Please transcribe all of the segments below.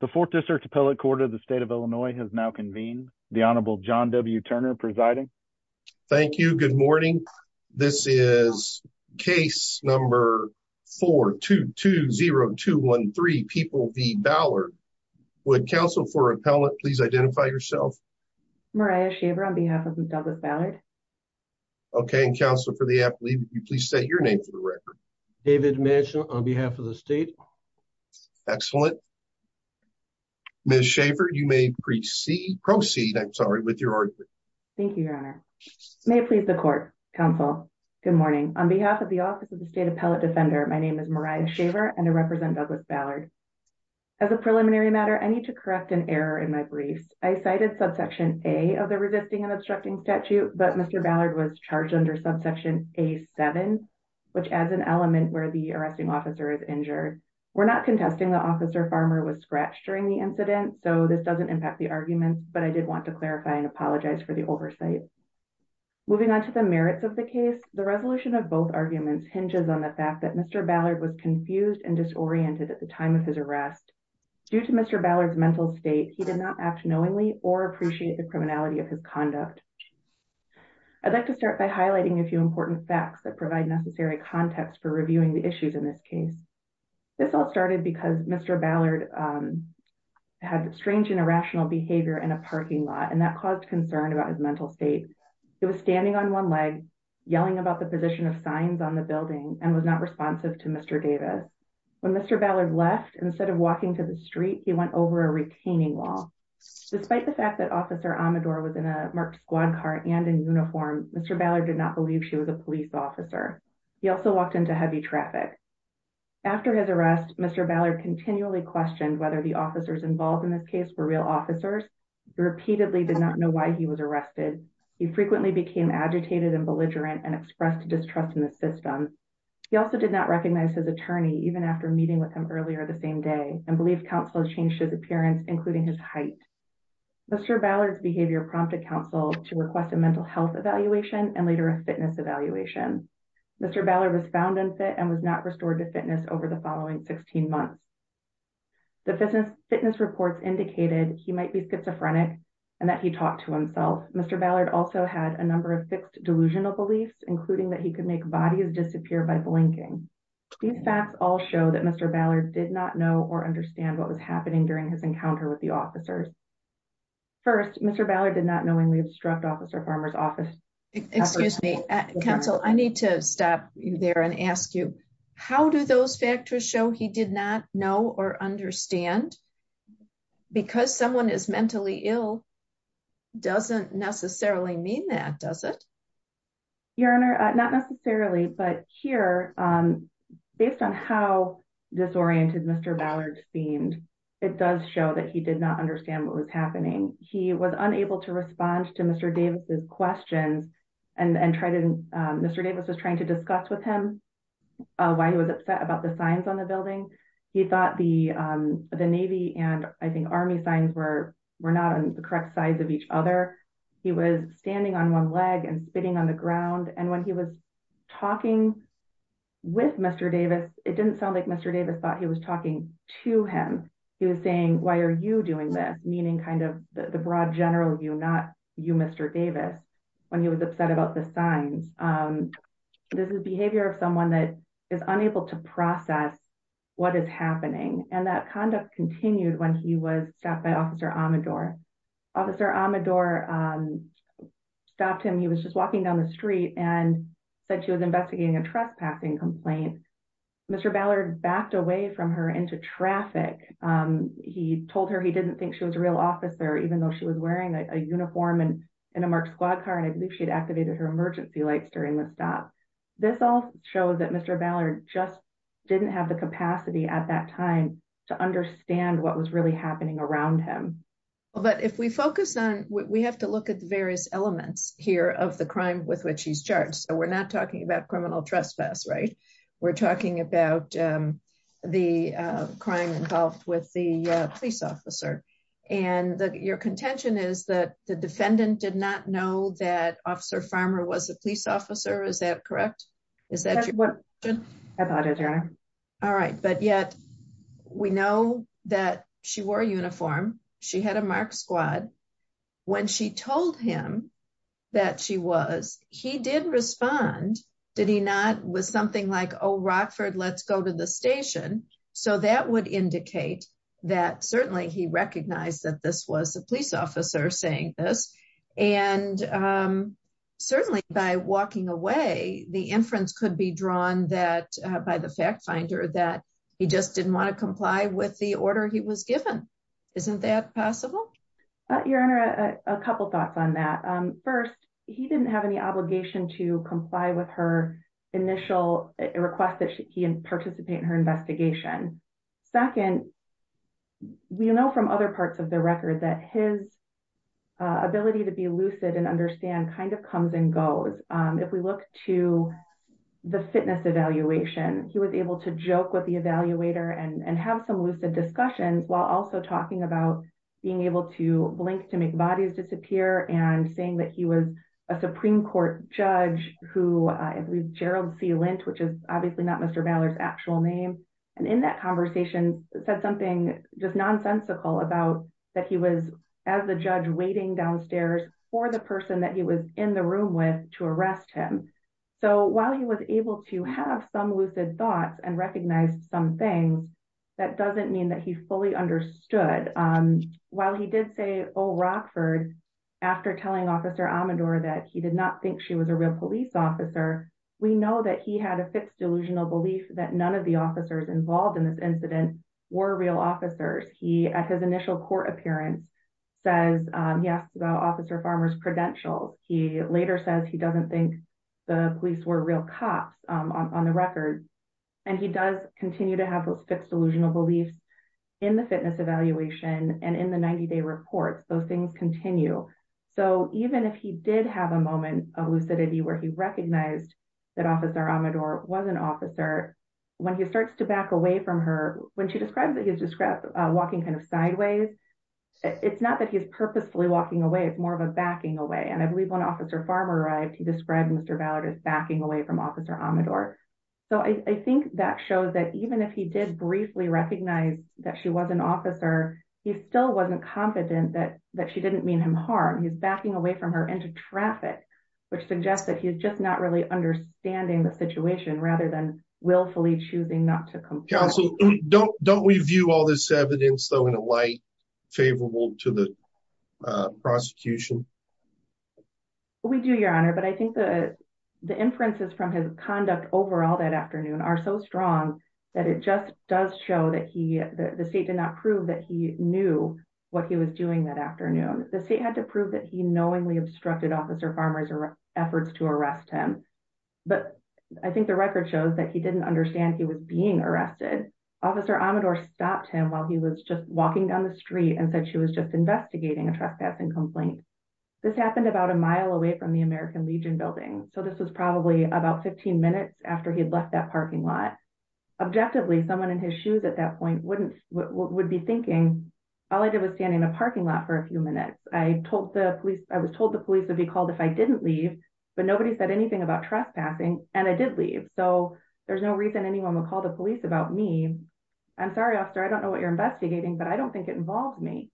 The fourth district appellate court of the state of Illinois has now convened. The Honorable John W. Turner presiding. Thank you. Good morning. This is case number 4-2-2-0-2-1-3. People v. Ballard. Would counsel for appellate please identify yourself. Mariah Shaver on behalf of Douglas Ballard. Okay. And counsel for the appellate would you please state your name for the record. David Mitchell on behalf of the state. Excellent. Ms. Shaver you may proceed. Proceed I'm sorry with your argument. Thank you your honor. May it please the court. Counsel. Good morning. On behalf of the office of the state appellate defender my name is Mariah Shaver and I represent Douglas Ballard. As a preliminary matter I need to correct an error in my briefs. I cited subsection A of the resisting and obstructing statute but Mr. Ballard was charged under subsection A-7 which adds an element where the arresting officer is injured. We're not contesting the officer farmer was scratched during the incident so this doesn't impact the arguments but I did want to clarify and apologize for the oversight. Moving on to the merits of the case the resolution of both arguments hinges on the fact that Mr. Ballard was confused and disoriented at the time of his arrest. Due to Mr. Ballard's mental state he did not act knowingly or appreciate the facts that provide necessary context for reviewing the issues in this case. This all started because Mr. Ballard had strange and irrational behavior in a parking lot and that caused concern about his mental state. He was standing on one leg yelling about the position of signs on the building and was not responsive to Mr. Davis. When Mr. Ballard left instead of walking to the street he went over a retaining wall. Despite the fact that officer Amador was marked squad car and in uniform Mr. Ballard did not believe she was a police officer. He also walked into heavy traffic. After his arrest Mr. Ballard continually questioned whether the officers involved in this case were real officers. He repeatedly did not know why he was arrested. He frequently became agitated and belligerent and expressed distrust in the system. He also did not recognize his attorney even after meeting with him earlier the same day and believed counsel changed his appearance including his height. Mr. Ballard's behavior prompted counsel to request a mental health evaluation and later a fitness evaluation. Mr. Ballard was found unfit and was not restored to fitness over the following 16 months. The fitness reports indicated he might be schizophrenic and that he talked to himself. Mr. Ballard also had a number of fixed delusional beliefs including that he could make bodies disappear by blinking. These facts all show that Mr. Ballard did not know or understand what was not knowingly obstruct officer farmer's office. Excuse me counsel I need to stop you there and ask you how do those factors show he did not know or understand because someone is mentally ill doesn't necessarily mean that does it? Your honor not necessarily but here based on how disoriented Mr. Ballard seemed it does show that he did not understand what was happening. He was unable to respond to Mr. Davis's questions and Mr. Davis was trying to discuss with him why he was upset about the signs on the building. He thought the Navy and I think Army signs were were not on the correct sides of each other. He was standing on one leg and spitting on the ground and when he was talking with Mr. Davis it didn't sound like Mr. Davis thought he was talking to him. He was saying why are you doing this meaning kind of the broad general view not you Mr. Davis when he was upset about the signs. This is behavior of someone that is unable to process what is happening and that conduct continued when he was stopped by officer Amador. Officer Amador stopped him he was just walking down the street and said she was investigating a trespassing complaint. Mr. Ballard backed away from her into traffic. He told her he didn't think she was a real officer even though she was wearing a uniform and in a marked squad car and I believe she'd activated her emergency lights during the stop. This all shows that Mr. Ballard just didn't have the capacity at that time to understand what was really happening around him. But if we focus on we have to look at the various elements here of the crime with which he's charged. We're not talking about criminal trespass right we're talking about the crime involved with the police officer and your contention is that the defendant did not know that officer Farmer was a police officer is that correct? Is that what I thought it was. All right but yet we know that she wore a uniform she had a marked squad when she told him that she was he did respond did he not with something like oh Rockford let's go to the station so that would indicate that certainly he recognized that this was a police officer saying this and certainly by walking away the inference could be drawn that by the fact finder that he just didn't want to comply with the order he was given. Isn't that possible? Your honor a couple thoughts on that. First he didn't have any obligation to comply with her initial request that he participate in her investigation. Second we know from other parts of the record that his ability to be lucid and understand kind of comes and goes. If we look to the fitness evaluation he was able to joke with the evaluator and have some lucid discussions while also talking about being able to blink to make bodies disappear and saying that he was a supreme court judge who I believe Gerald C Lint which is obviously not Mr. Ballard's actual name and in that conversation said something just nonsensical about that he was as the judge waiting downstairs for the person that he was in the room with to arrest him. So while he was able to have some lucid thoughts and recognize some things that doesn't mean that he fully understood. While he did say oh Rockford after telling officer Amador that he did not think she was a real police officer we know that he had a fixed delusional belief that none of the officers involved in this incident were real officers. He at his initial court appearance says he asked about officer Farmer's credentials. He later says he doesn't think the police were real cops on the record and he does continue to have those fixed delusional beliefs in the fitness evaluation and in the 90-day reports those things continue. So even if he did have a moment of lucidity where he recognized that officer Amador was an officer when he starts to not that he's purposefully walking away it's more of a backing away and I believe when officer Farmer arrived he described Mr. Ballard as backing away from officer Amador. So I think that shows that even if he did briefly recognize that she was an officer he still wasn't confident that that she didn't mean him harm. He's backing away from her into traffic which suggests that he's just not really understanding the situation rather than willfully choosing not to comply. Counsel don't we view all this evidence though in a light favorable to the prosecution? We do your honor but I think the the inferences from his conduct overall that afternoon are so strong that it just does show that he the state did not prove that he knew what he was doing that afternoon. The state had to prove that he knowingly obstructed officer Farmer's efforts to arrest him but I think the record shows that he didn't understand he was being arrested. Officer Amador stopped him while he was just walking down the street and said she was just investigating a trespassing complaint. This happened about a mile away from the American Legion building so this was probably about 15 minutes after he had left that parking lot. Objectively someone in his shoes at that point wouldn't would be thinking all I did was stand in a parking lot for a few minutes. I told the police I was told the police would be called if I didn't leave but nobody said anything about trespassing and I did leave so there's no reason anyone would call the police about me. I'm sorry officer I don't know what you're investigating but I don't think it involved me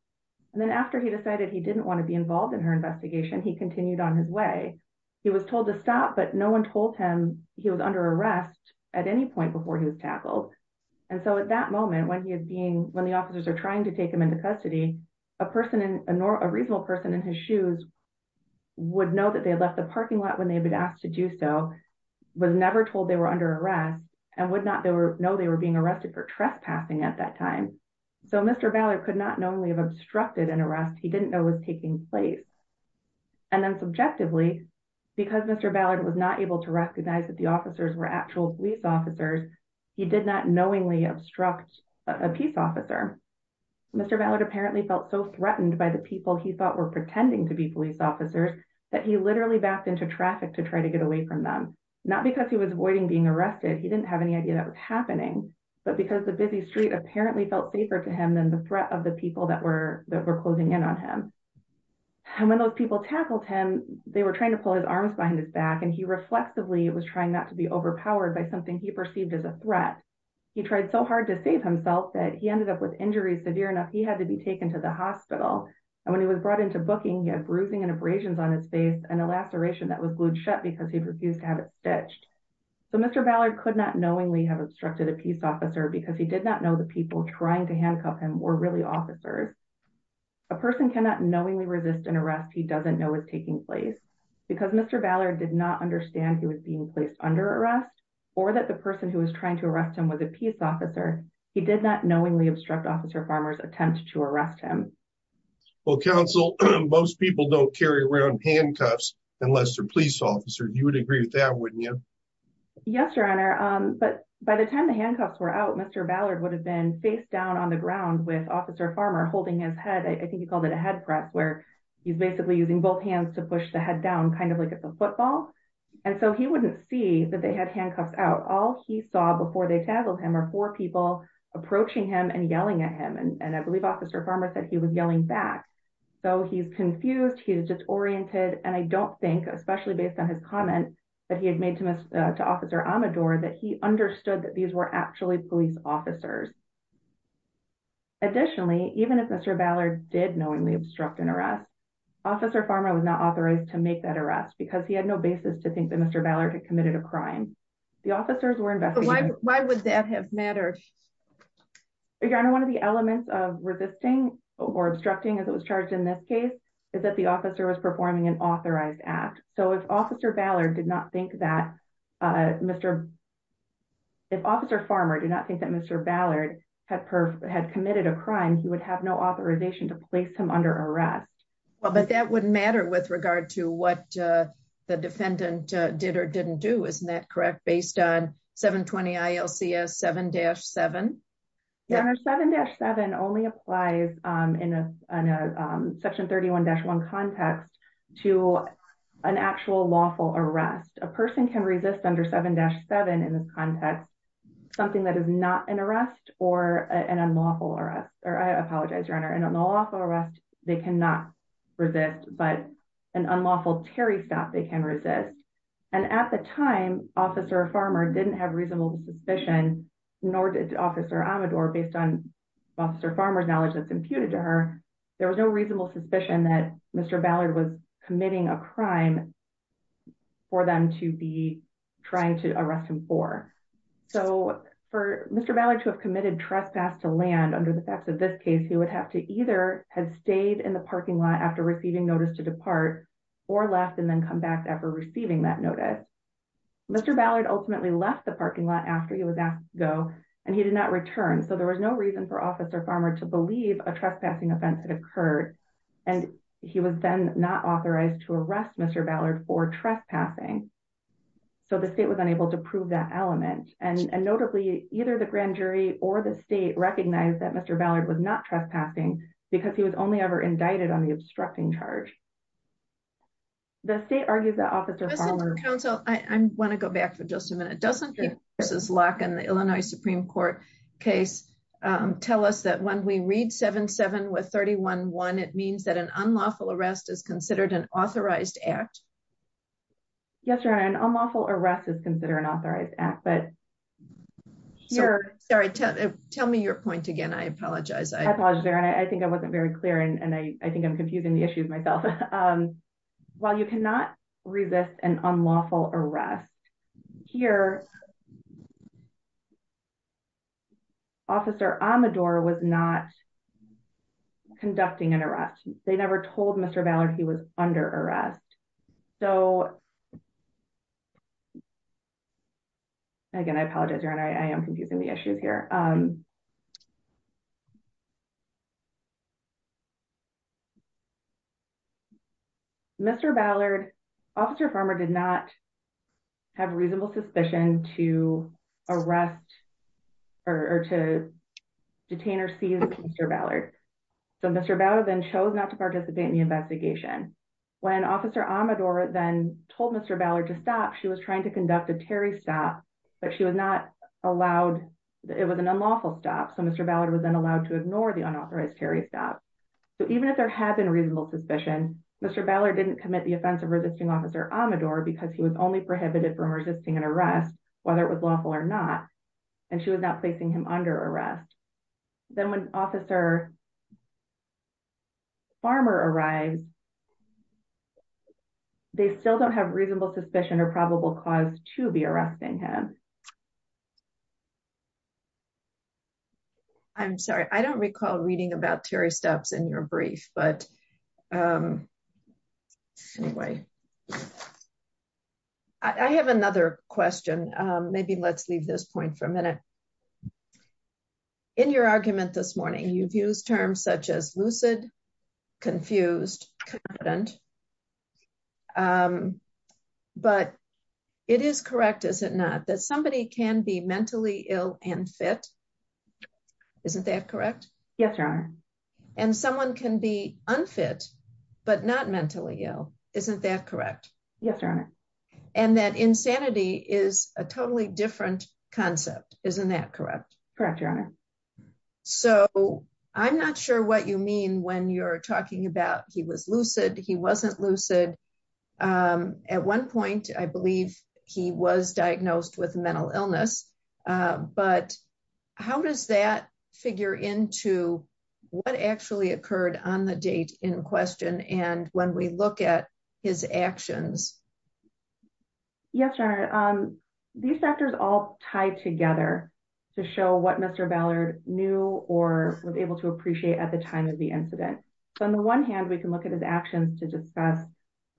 and then after he decided he didn't want to be involved in her investigation he continued on his way. He was told to stop but no one told him he was under arrest at any point before he was tackled and so at that moment when he was being when the officers are trying to take him into custody a person in a nor a reasonable person in his shoes would know that they had left the was never told they were under arrest and would not know they were being arrested for trespassing at that time. So Mr. Ballard could not knowingly have obstructed an arrest he didn't know was taking place and then subjectively because Mr. Ballard was not able to recognize that the officers were actual police officers he did not knowingly obstruct a peace officer. Mr. Ballard apparently felt so threatened by the people he thought were pretending to be police officers that he literally backed into traffic to try to get away from them. Not because he was avoiding being arrested he didn't have any idea that was happening but because the busy street apparently felt safer to him than the threat of the people that were that were closing in on him. And when those people tackled him they were trying to pull his arms behind his back and he reflexively was trying not to be overpowered by something he perceived as a threat. He tried so hard to save himself that he ended up with injuries severe enough he had to be taken to the hospital and when he was brought into booking he had bruising and abrasions on his face and a laceration that was glued shut because he refused to have it stitched. So Mr. Ballard could not knowingly have obstructed a peace officer because he did not know the people trying to handcuff him were really officers. A person cannot knowingly resist an arrest he doesn't know is taking place. Because Mr. Ballard did not understand he was being placed under arrest or that the person who was trying to arrest him was a peace officer he did not knowingly obstruct officer farmer's attempt to arrest him. Well counsel most people don't carry around handcuffs unless they're police officer you would agree with that wouldn't you? Yes your honor but by the time the handcuffs were out Mr. Ballard would have been face down on the ground with officer farmer holding his head I think he called it a head prep where he's basically using both hands to push the head down kind of like it's a football and so he wouldn't see that they had handcuffs out. All he saw before they tackled him are four people approaching him and yelling at him and I believe officer farmer said he was yelling back. So he's confused he's disoriented and I don't think especially based on his comment that he had made to officer Amador that he understood that these were actually police officers. Additionally even if Mr. Ballard did knowingly obstruct an arrest officer farmer was not authorized to make that arrest because he had no basis to think that Mr. Ballard had committed a crime. The officers were investigating. Why would that have mattered? Your honor one of the elements of resisting or obstructing as it was charged in this case is that the officer was performing an authorized act. So if officer Ballard did not think that Mr. if officer farmer did not think that Mr. Ballard had had committed a crime he would have no authorization to place him under arrest. Well but that wouldn't matter with regard to what the defendant did or didn't do isn't that correct based on 720 ILCS 7-7? Your honor 7-7 only applies um in a in a section 31-1 context to an actual lawful arrest. A person can resist under 7-7 in this context something that is not an arrest or an unlawful arrest or I apologize your honor an unlawful arrest they cannot resist but an unlawful terry stop they can resist and at the time officer farmer didn't have reasonable suspicion nor did officer Amador based on officer farmer's knowledge that's imputed to her there was no reasonable suspicion that Mr. Ballard was committing a crime for them to be trying to arrest him for. So for Mr. Ballard to have committed trespass to land under the facts of this case he would have to either have stayed in the parking lot after receiving notice to depart or left and then come back after receiving that notice. Mr. Ballard ultimately left the parking lot after he was asked to go and he did not return so there was no reason for officer farmer to believe a trespassing offense had occurred and he was then not authorized to arrest Mr. Ballard for trespassing. So the state was unable to prove that element and notably either the grand jury or the state recognized that Mr. Ballard was not trespassing because he was only ever indicted on the obstructing charge. The state argues that officer farmer counsel I want to go back for just a minute doesn't this lock in the Illinois Supreme Court case tell us that when we read 7-7 with 31-1 it means that an unlawful arrest is considered an act but here sorry tell me your point again I apologize I apologize Erin I think I wasn't very clear and I think I'm confusing the issues myself. While you cannot resist an unlawful arrest here officer Amador was not conducting an arrest they never told Mr. Ballard he was under arrest so again I apologize Erin I am confusing the issues here Mr. Ballard officer farmer did not have reasonable suspicion to arrest or to detain or seize Mr. Ballard so Mr. Ballard then chose not to participate in the investigation when officer Amador then told Mr. Ballard to stop she was trying to conduct a Terry stop but she was not allowed it was an unlawful stop so Mr. Ballard was then allowed to ignore the unauthorized Terry stop so even if there had been reasonable suspicion Mr. Ballard didn't commit the offense of resisting officer Amador because he was only prohibited from resisting an arrest whether it was lawful or not and she was not facing him under arrest then when officer farmer arrived they still don't have reasonable suspicion or probable cause to be arresting him I'm sorry I don't recall reading about Terry steps in your brief but anyway I have another question maybe let's leave this point for a minute um in your argument this morning you've used terms such as lucid confused confident um but it is correct is it not that somebody can be mentally ill and fit isn't that correct yes your honor and someone can be unfit but not mentally ill isn't that correct yes your honor and that insanity is a totally different concept isn't that correct correct your honor so I'm not sure what you mean when you're talking about he was lucid he wasn't lucid at one point I believe he was diagnosed with mental illness but how does that figure into what actually occurred on the date in question and when we look at his actions yes your honor these factors all tie together to show what Mr. Ballard knew or was able to appreciate at the time of the incident so on the one hand we can look at his actions to discuss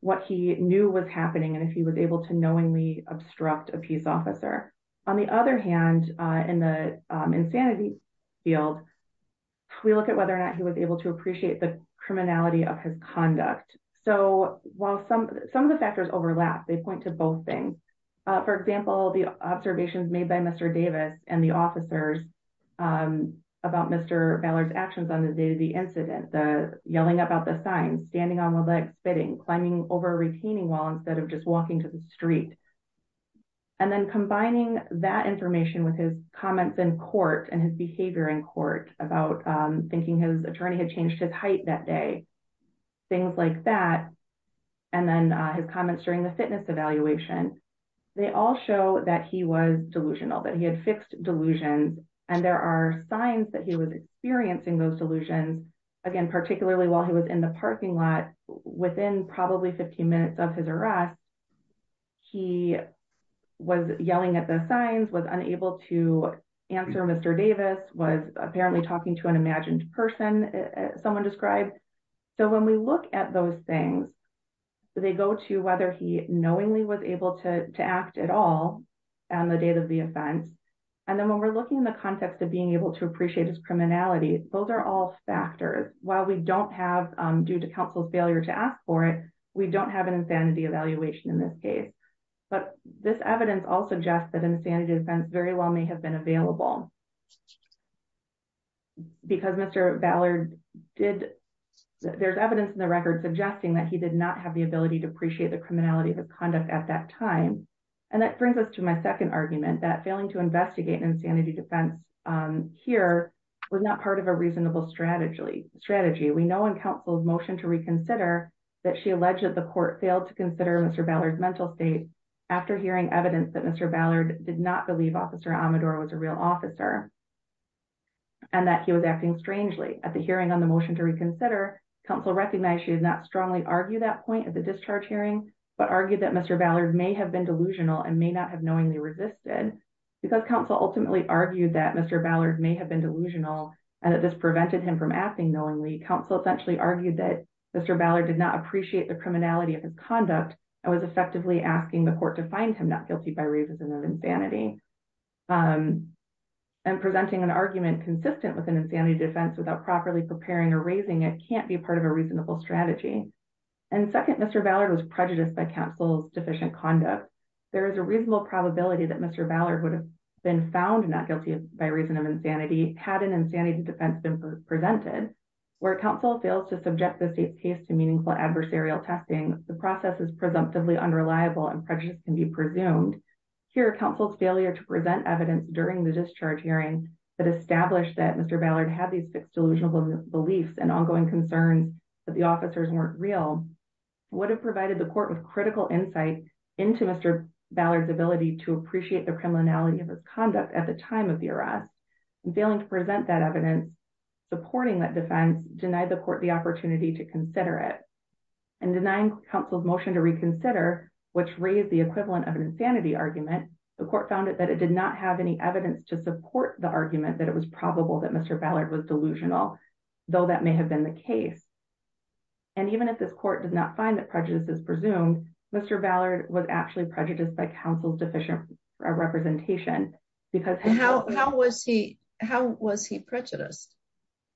what he knew was happening and if he was able to knowingly obstruct a peace officer on the other hand in the insanity field we look at whether or not he was able to appreciate the criminality of his conduct so while some some of the factors overlap they point to both things for example the observations made by Mr. Davis and the officers about Mr. Ballard's actions on the day of the incident the yelling about the sign standing on the leg spitting climbing over retaining wall instead of just walking to the street and then combining that information with his comments in court and his behavior in court about thinking his attorney had changed his height that day things like that and then his comments during the fitness evaluation they all show that he was delusional that he had fixed delusions and there are signs that he was experiencing those minutes of his arrest he was yelling at the signs was unable to answer Mr. Davis was apparently talking to an imagined person someone described so when we look at those things they go to whether he knowingly was able to to act at all on the date of the offense and then when we're looking in the context of being able to appreciate his criminality those are all factors while we don't have due to failure to ask for it we don't have an insanity evaluation in this case but this evidence all suggests that insanity defense very well may have been available because Mr. Ballard did there's evidence in the record suggesting that he did not have the ability to appreciate the criminality of his conduct at that time and that brings us to my second argument that failing to investigate insanity defense um here was not part of a reasonable strategy strategy we know in counsel's motion to reconsider that she alleged that the court failed to consider Mr. Ballard's mental state after hearing evidence that Mr. Ballard did not believe officer Amador was a real officer and that he was acting strangely at the hearing on the motion to reconsider counsel recognized she did not strongly argue that point at the discharge hearing but argued that Mr. Ballard may have been delusional and may not have knowingly resisted because counsel ultimately argued that Mr. Ballard may have been delusional and that this prevented him from acting knowingly counsel essentially argued that Mr. Ballard did not appreciate the criminality of his conduct and was effectively asking the court to find him not guilty by reason of insanity and presenting an argument consistent with an insanity defense without properly preparing or raising it can't be part of a reasonable strategy and second Mr. Ballard was prejudiced by counsel's deficient conduct there is a reasonable probability that Mr. Ballard would have been found not guilty by reason of insanity defense been presented where counsel fails to subject the state's case to meaningful adversarial testing the process is presumptively unreliable and prejudice can be presumed here counsel's failure to present evidence during the discharge hearing that established that Mr. Ballard had these fixed delusional beliefs and ongoing concerns that the officers weren't real would have provided the court with critical insight into Mr. Ballard's ability to appreciate the criminality of his conduct at the time of the arrest and failing to present that evidence supporting that defense denied the court the opportunity to consider it and denying counsel's motion to reconsider which raised the equivalent of an insanity argument the court found it that it did not have any evidence to support the argument that it was probable that Mr. Ballard was delusional though that may have been the case and even if this court does not find that counsel's deficient representation because how how was he how was he prejudiced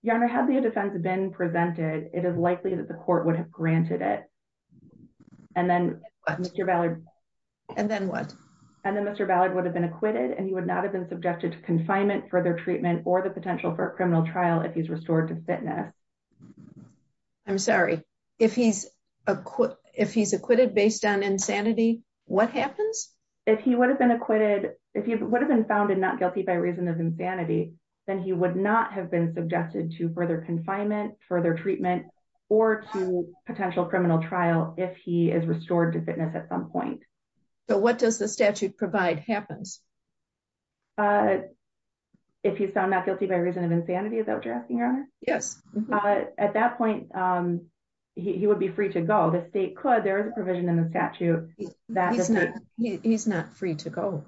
your honor had the defense been presented it is likely that the court would have granted it and then Mr. Ballard and then what and then Mr. Ballard would have been acquitted and he would not have been subjected to confinement further treatment or the potential for a criminal trial if he's restored to fitness i'm sorry if he's acquit if he's acquitted based on insanity what happens if he would have been acquitted if he would have been found and not guilty by reason of insanity then he would not have been suggested to further confinement further treatment or to potential criminal trial if he is restored to fitness at some point so what does the statute provide happens uh if he's found not at that point um he would be free to go the state could there is a provision in the statute that he's not he's not free to go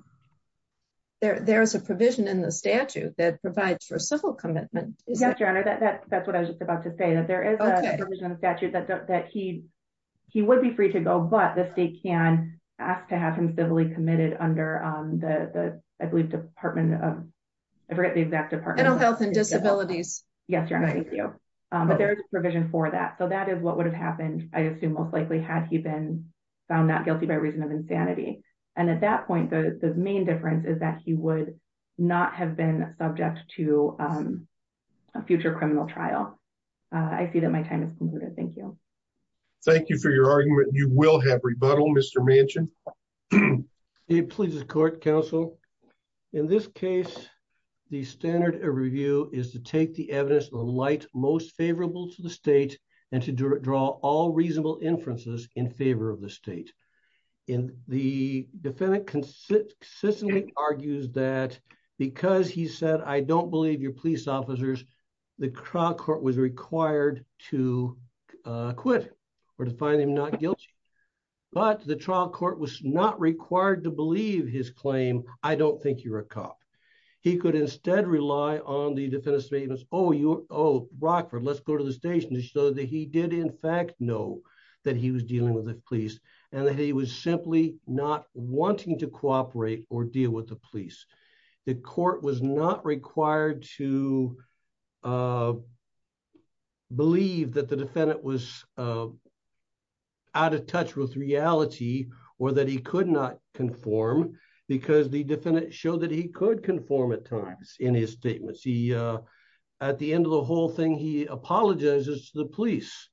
there there is a provision in the statute that provides for civil commitment yes your honor that that's that's what i was just about to say that there is a provision in the statute that that he he would be free to go but the state can ask to have him civilly committed under um the the i believe department of i forget the exact department mental health and disabilities yes your honor thank you um but there is a provision for that so that is what would have happened i assume most likely had he been found not guilty by reason of insanity and at that point the the main difference is that he would not have been subject to um a future criminal trial i see that my time is concluded thank you thank you for your argument you will have rebuttal mr mansion it pleases court counsel in this case the standard of review is to take the evidence of light most favorable to the state and to draw all reasonable inferences in favor of the state in the defendant consistently argues that because he said i don't believe your but the trial court was not required to believe his claim i don't think you're a cop he could instead rely on the defendant statements oh you're oh brockford let's go to the station so that he did in fact know that he was dealing with the police and that he was simply not wanting to cooperate or deal with the police the court was not required to uh believe that the defendant was uh out of touch with reality or that he could not conform because the defendant showed that he could conform at times in his statements he uh at the end of the whole thing he apologizes to the police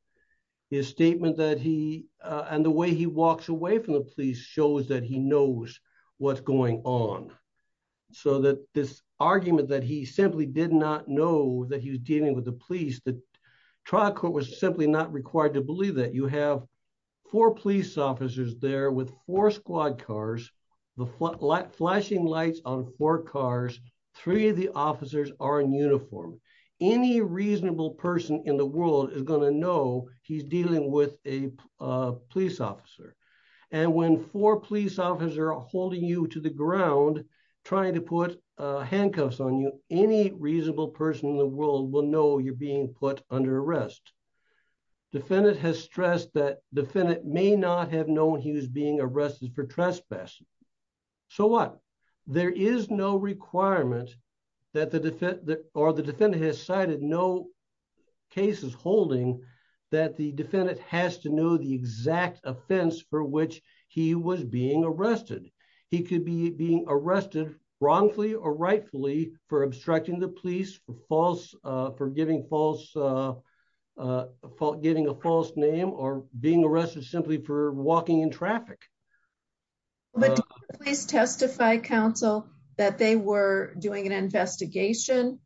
his statement that he uh and the way he walks away from the police shows that he knows what's going on so that this argument that he simply did not know that he was dealing with the police the trial court was simply not required to believe that you have four police officers there with four squad cars the flashing lights on four cars three of the officers are in uniform any reasonable person in the world is going to know he's dealing with a police officer and when four police officers are holding you to the ground trying to put uh handcuffs on you any reasonable person in the world will know you're being put under arrest defendant has stressed that defendant may not have known he was being arrested for trespass so what there is no requirement that the defendant or the defendant has cited no cases holding that the defendant has to know the exact offense for which he was being arrested he could be being arrested wrongfully or rightfully for obstructing the police for false for giving false uh uh giving a false name or being arrested simply for walking in traffic but please testify counsel that they were doing an investigation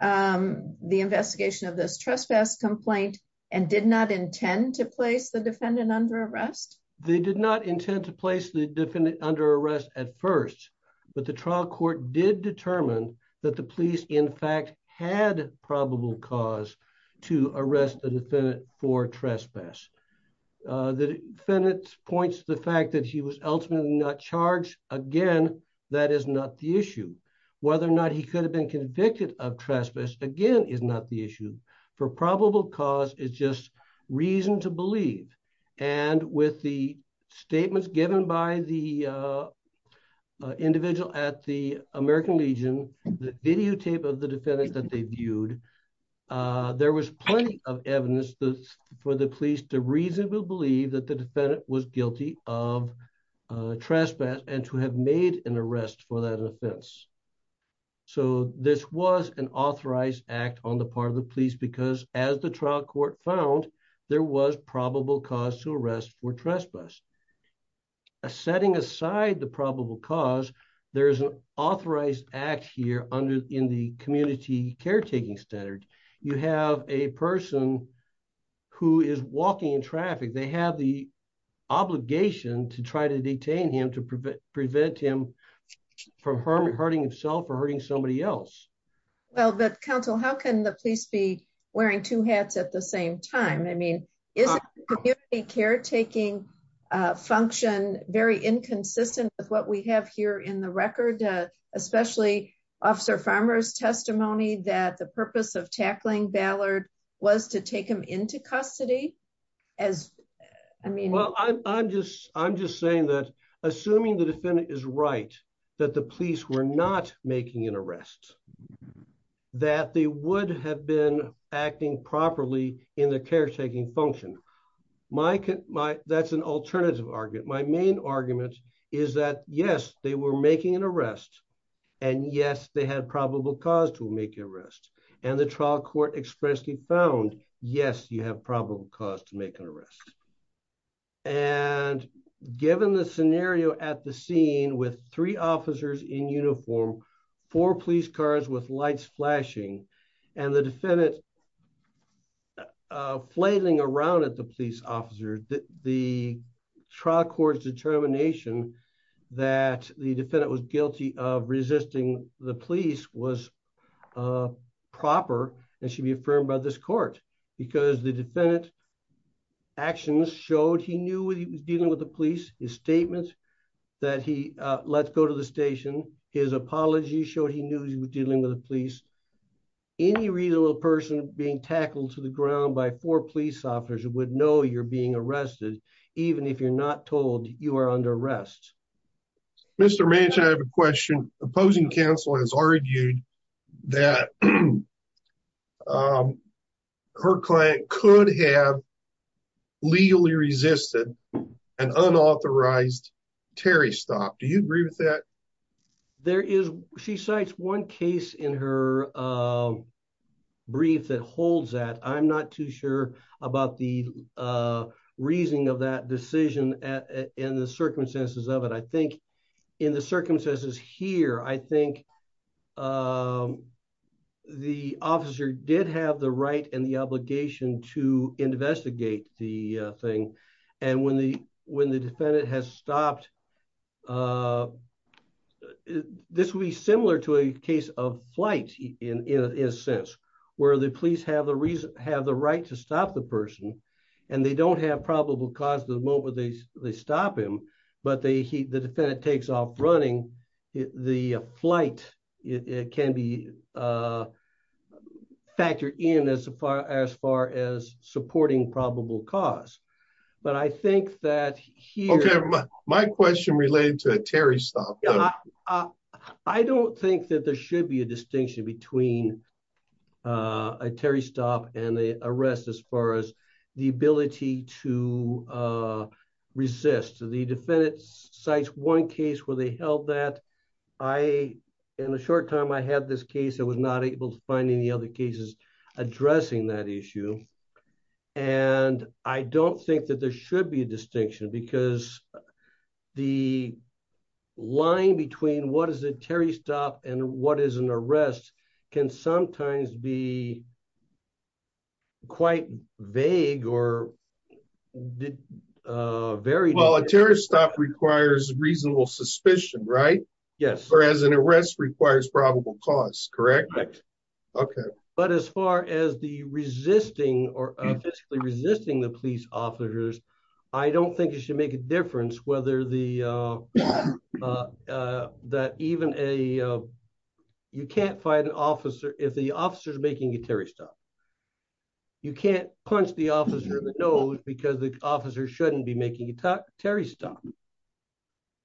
um the investigation of this trespass complaint and did not intend to place the defendant under arrest they did not intend to place the defendant under arrest at first but the trial court did determine that the police in fact had probable cause to arrest the defendant for trespass uh the defendant points the fact that he was ultimately not charged again that is not the issue whether or not he could have been convicted of trespass again is not the issue for probable cause is just reason to believe and with the statements given by the uh individual at the american legion the videotape of the defendant that they viewed uh there was plenty of evidence for the police to reasonably believe that the defendant was guilty of uh trespass and to have made an arrest for that offense so this was an authorized act on the part of the police because as the trial court found there was probable cause to arrest for trespass a setting aside the probable cause there is an authorized act here under in the community caretaking standard you have a person who is walking in traffic they have the obligation to try to detain him to prevent him from hurting himself or hurting somebody else well but counsel how can the police be wearing two hats at the same time i mean isn't community caretaking uh function very inconsistent with what we have here in the record especially officer farmer's testimony that the purpose of tackling ballard was to take him into custody as i mean well i'm just i'm just saying that assuming the defendant is right that the police were not making an arrest that they would have been acting properly in the caretaking function my my that's an alternative argument my main argument is that yes they were making an arrest and yes they had probable cause to make an arrest and the trial court expressly found yes you have probable cause to make an arrest and given the scenario at the scene with three officers in uniform four police cars with lights flashing and the defendant flailing around at the police officer the trial court's determination that the defendant was guilty of resisting the police was proper and should be affirmed by this defendant actions showed he knew he was dealing with the police his statement that he uh let's go to the station his apology showed he knew he was dealing with the police any reasonable person being tackled to the ground by four police officers would know you're being arrested even if you're not told you are under arrest mr manchin i have a question opposing counsel has argued that um her client could have legally resisted an unauthorized terry stop do you agree with that there is she cites one case in her uh brief that holds that i'm not too sure about the uh reasoning of that decision at in the circumstances of it i think in the circumstances here i think um the officer did have the right and the obligation to investigate the thing and when the when the defendant has stopped uh this will be similar to a case of flight in in a sense where the police have the reason have the right to stop the person and they don't have probable cause to the moment they they stop him but they he the defendant takes off running the flight it can be uh factored in as far as far as supporting probable cause but i think that here my question related to a terry stop i don't think that there should be a distinction between uh a terry stop and the arrest as far as the ability to uh resist the defendant cites one case where they held that i in a short time i had this case i was not able to find any other cases addressing that issue and i don't think that there should be a distinction because the line between what is a terry stop and what is an arrest can sometimes be quite vague or very well a terrorist stop requires reasonable suspicion right yes whereas an arrest requires probable cause correct okay but as far as the resisting or physically resisting the police officers i don't think it should make a difference whether the uh uh that even a you can't fight an officer if the officer is making a terry stop you can't punch the officer in the nose because the officer shouldn't be making a terry stop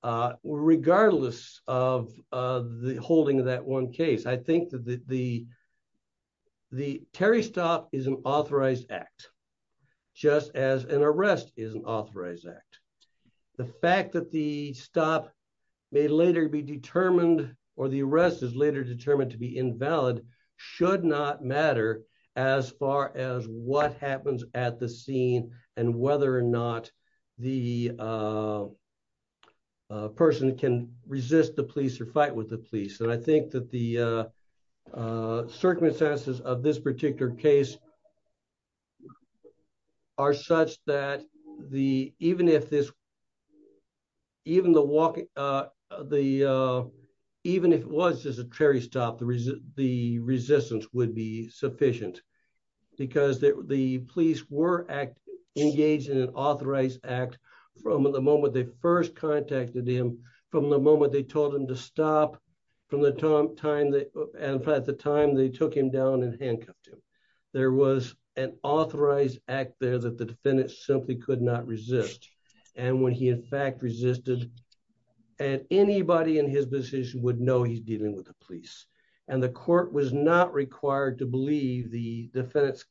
uh regardless of uh the holding of that one case i think that the the terry stop is an authorized act just as an arrest is an authorized act the fact that the stop may later be determined or the arrest is later determined to be invalid should not matter as far as what happens at the scene and whether or not the uh person can resist the police or fight with the police and i think that the uh circumstances of this particular case are such that the even if this even the walk the uh even if it was just a cherry stop the resistance would be sufficient because the police were act engaged in an authorized act from the moment they first contacted him from the moment they told him to stop from the time they and at the time they took him down and handcuffed him there was an authorized act there that the defendant simply could not resist and when he in fact resisted and anybody in his decision would know he's dealing with the police and the court was not required to believe the defendant's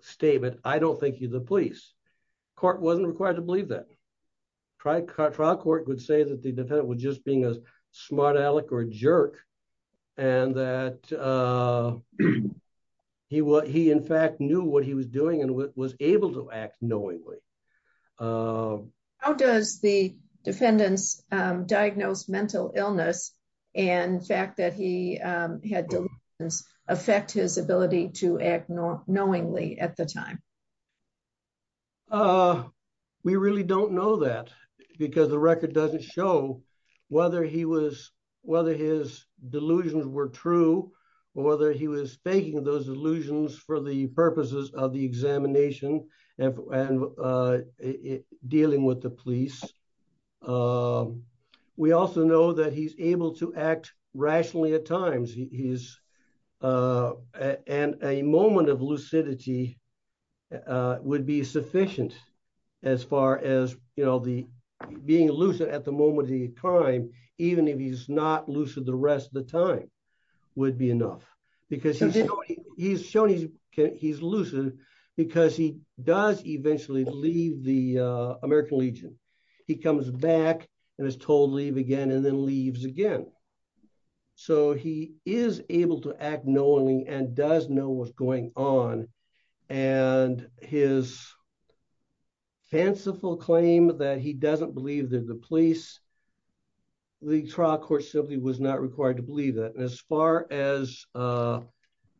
statement i don't think he's the police court wasn't required to believe that trial court would say that the defendant was just being a smart aleck or a jerk and that uh he what he in fact knew what he was doing and was able to act knowingly how does the defendant's um diagnosed mental illness and fact that he um had delusions affect his ability to act knowingly at the time uh we really don't know that because the record doesn't show whether he was whether his delusions were true or whether he was faking those illusions for the purposes of the examination and uh dealing with the police um we also know that he's able to and a moment of lucidity uh would be sufficient as far as you know the being lucid at the moment of the crime even if he's not lucid the rest of the time would be enough because he's he's shown he's he's lucid because he does eventually leave the uh american legion he comes back and is told again and then leaves again so he is able to act knowingly and does know what's going on and his fanciful claim that he doesn't believe that the police league trial court simply was not required to believe that as far as uh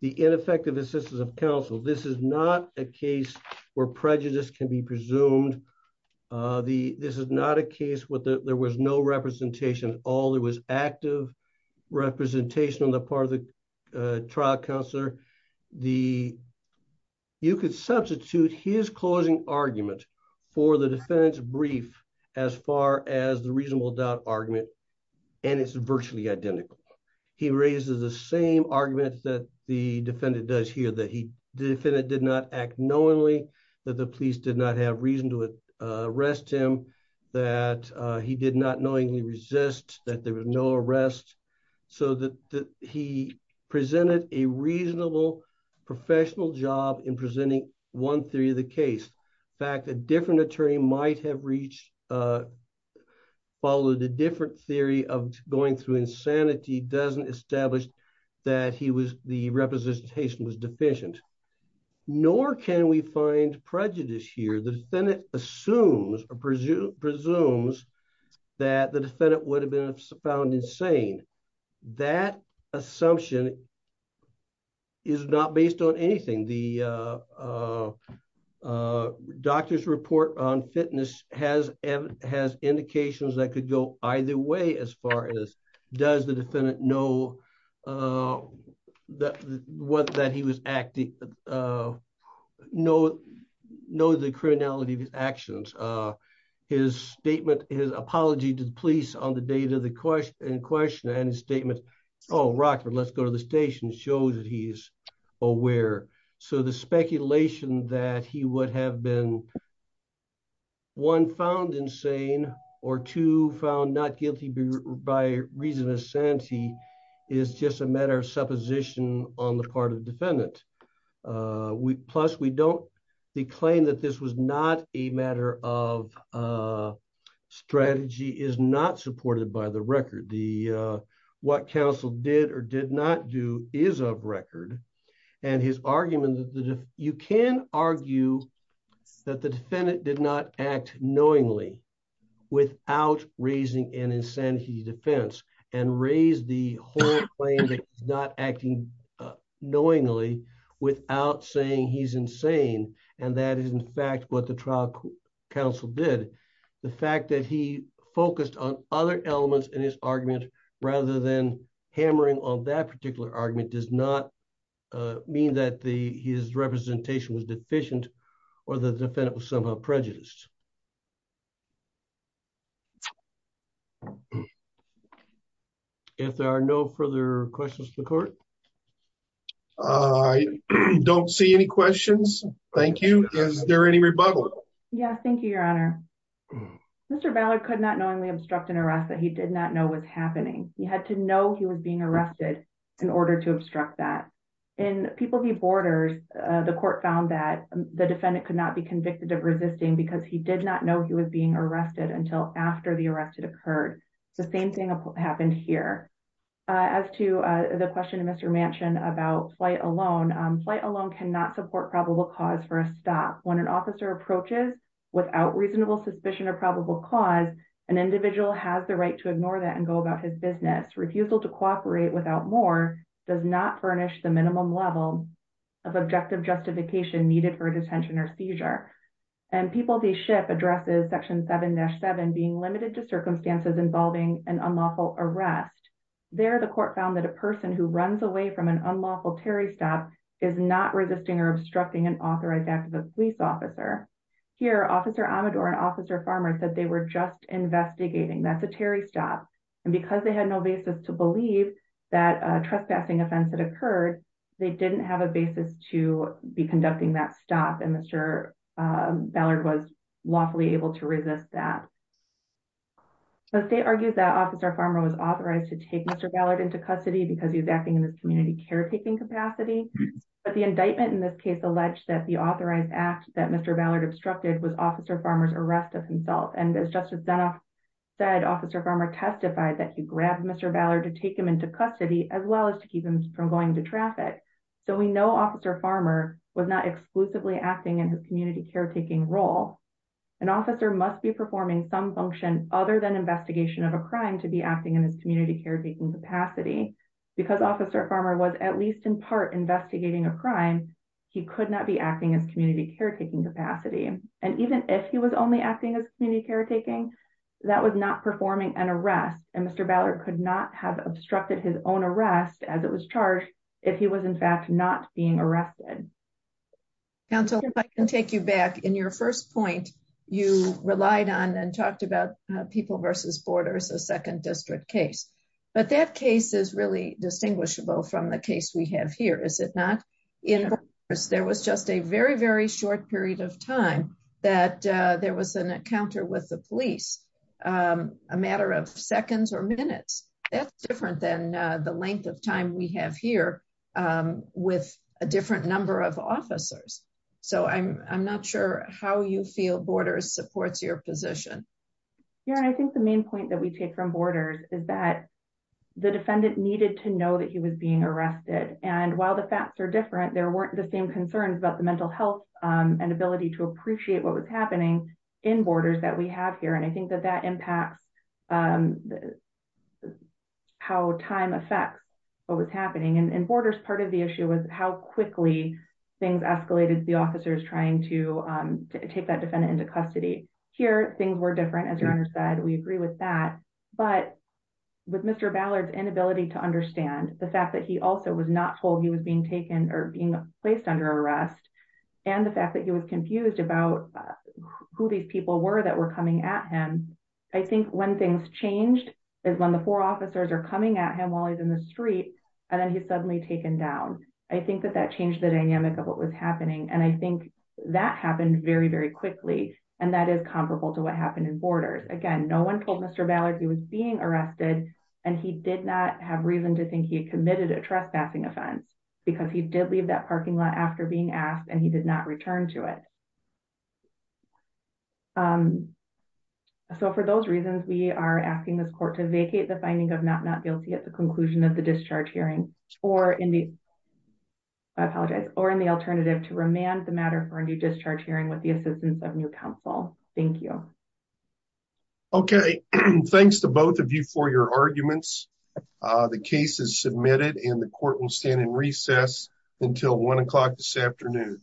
the ineffective assistance of counsel this is not a case where prejudice can be presumed uh the this is not a all there was active representation on the part of the trial counselor the you could substitute his closing argument for the defendant's brief as far as the reasonable doubt argument and it's virtually identical he raises the same argument that the defendant does here that he the defendant did not act knowingly that the police did not have reason to arrest him that he did not knowingly resist that there was no arrest so that that he presented a reasonable professional job in presenting one theory of the case in fact a different attorney might have reached uh followed a different theory of going through insanity doesn't establish that he was the representation was deficient nor can we find prejudice here the defendant assumes or presume presumes that the defendant would have been found insane that assumption is not based on anything the uh doctor's report on fitness has has indications that could go either way as far as does the he was acting uh know know the criminality of his actions uh his statement his apology to the police on the day to the question and question and his statement oh rockford let's go to the station shows that he's aware so the speculation that he would have been one found insane or two not guilty by reason of sanity is just a matter of supposition on the part of the defendant we plus we don't they claim that this was not a matter of uh strategy is not supported by the record the uh what counsel did or did not do is of record and his argument that you can argue that the defendant did not act knowingly without raising an insanity defense and raise the whole claim that he's not acting uh knowingly without saying he's insane and that is in fact what the trial counsel did the fact that he focused on other elements in his argument rather than or the defendant was somehow prejudiced if there are no further questions to the court i don't see any questions thank you is there any rebuttal yeah thank you your honor mr ballard could not knowingly obstruct an arrest that he did not know was happening he had to know he was being arrested in order to obstruct that in people he borders uh the defendant could not be convicted of resisting because he did not know he was being arrested until after the arrest it occurred the same thing happened here as to uh the question of mr mansion about flight alone flight alone cannot support probable cause for a stop when an officer approaches without reasonable suspicion or probable cause an individual has the right to ignore that and go about his business refusal to cooperate without more does not furnish the minimum level of objective justification needed for a detention or seizure and people they ship addresses section 7-7 being limited to circumstances involving an unlawful arrest there the court found that a person who runs away from an unlawful terry stop is not resisting or obstructing an authorized act of the police officer here officer amador and officer farmer said they were just investigating that's a terry stop and because they had no basis to believe that a trespassing offense had occurred they didn't have a basis to be conducting that stop and mr ballard was lawfully able to resist that but they argued that officer farmer was authorized to take mr ballard into custody because he was acting in this community caretaking capacity but the indictment in this case alleged that the authorized act that mr ballard obstructed was officer farmer's arrest of himself and as justice dunoff said officer farmer testified that he grabbed mr ballard to to traffic so we know officer farmer was not exclusively acting in his community caretaking role an officer must be performing some function other than investigation of a crime to be acting in his community caretaking capacity because officer farmer was at least in part investigating a crime he could not be acting as community caretaking capacity and even if he was only acting as community caretaking that was not performing an arrest and mr ballard could not have obstructed his own arrest as it was charged if he was in fact not being arrested counsel if i can take you back in your first point you relied on and talked about people versus borders a second district case but that case is really distinguishable from the case we have here is it not in there was just a very very short period of time that there was an encounter with police a matter of seconds or minutes that's different than the length of time we have here with a different number of officers so i'm i'm not sure how you feel borders supports your position yeah i think the main point that we take from borders is that the defendant needed to know that he was being arrested and while the facts are different there weren't the same concerns about mental health and ability to appreciate what was happening in borders that we have here and i think that that impacts how time affects what was happening and in borders part of the issue was how quickly things escalated the officers trying to take that defendant into custody here things were different as your honor said we agree with that but with mr ballard's inability to understand the fact that he also was not told he was being taken or being placed under arrest and the fact that he was confused about who these people were that were coming at him i think when things changed is when the four officers are coming at him while he's in the street and then he's suddenly taken down i think that that changed the dynamic of what was happening and i think that happened very very quickly and that is comparable to what happened in borders again no one told mr ballard he was being arrested and he did not have reason to think he committed a trespassing offense because he did leave that parking lot after being asked and he did not return to it um so for those reasons we are asking this court to vacate the finding of not not guilty at the conclusion of the discharge hearing or in the i apologize or in the alternative to remand the matter for a new discharge hearing with the assistance of new counsel thank you okay thanks to both of you for your arguments uh the case is submitted and the court will stand in recess until one o'clock this afternoon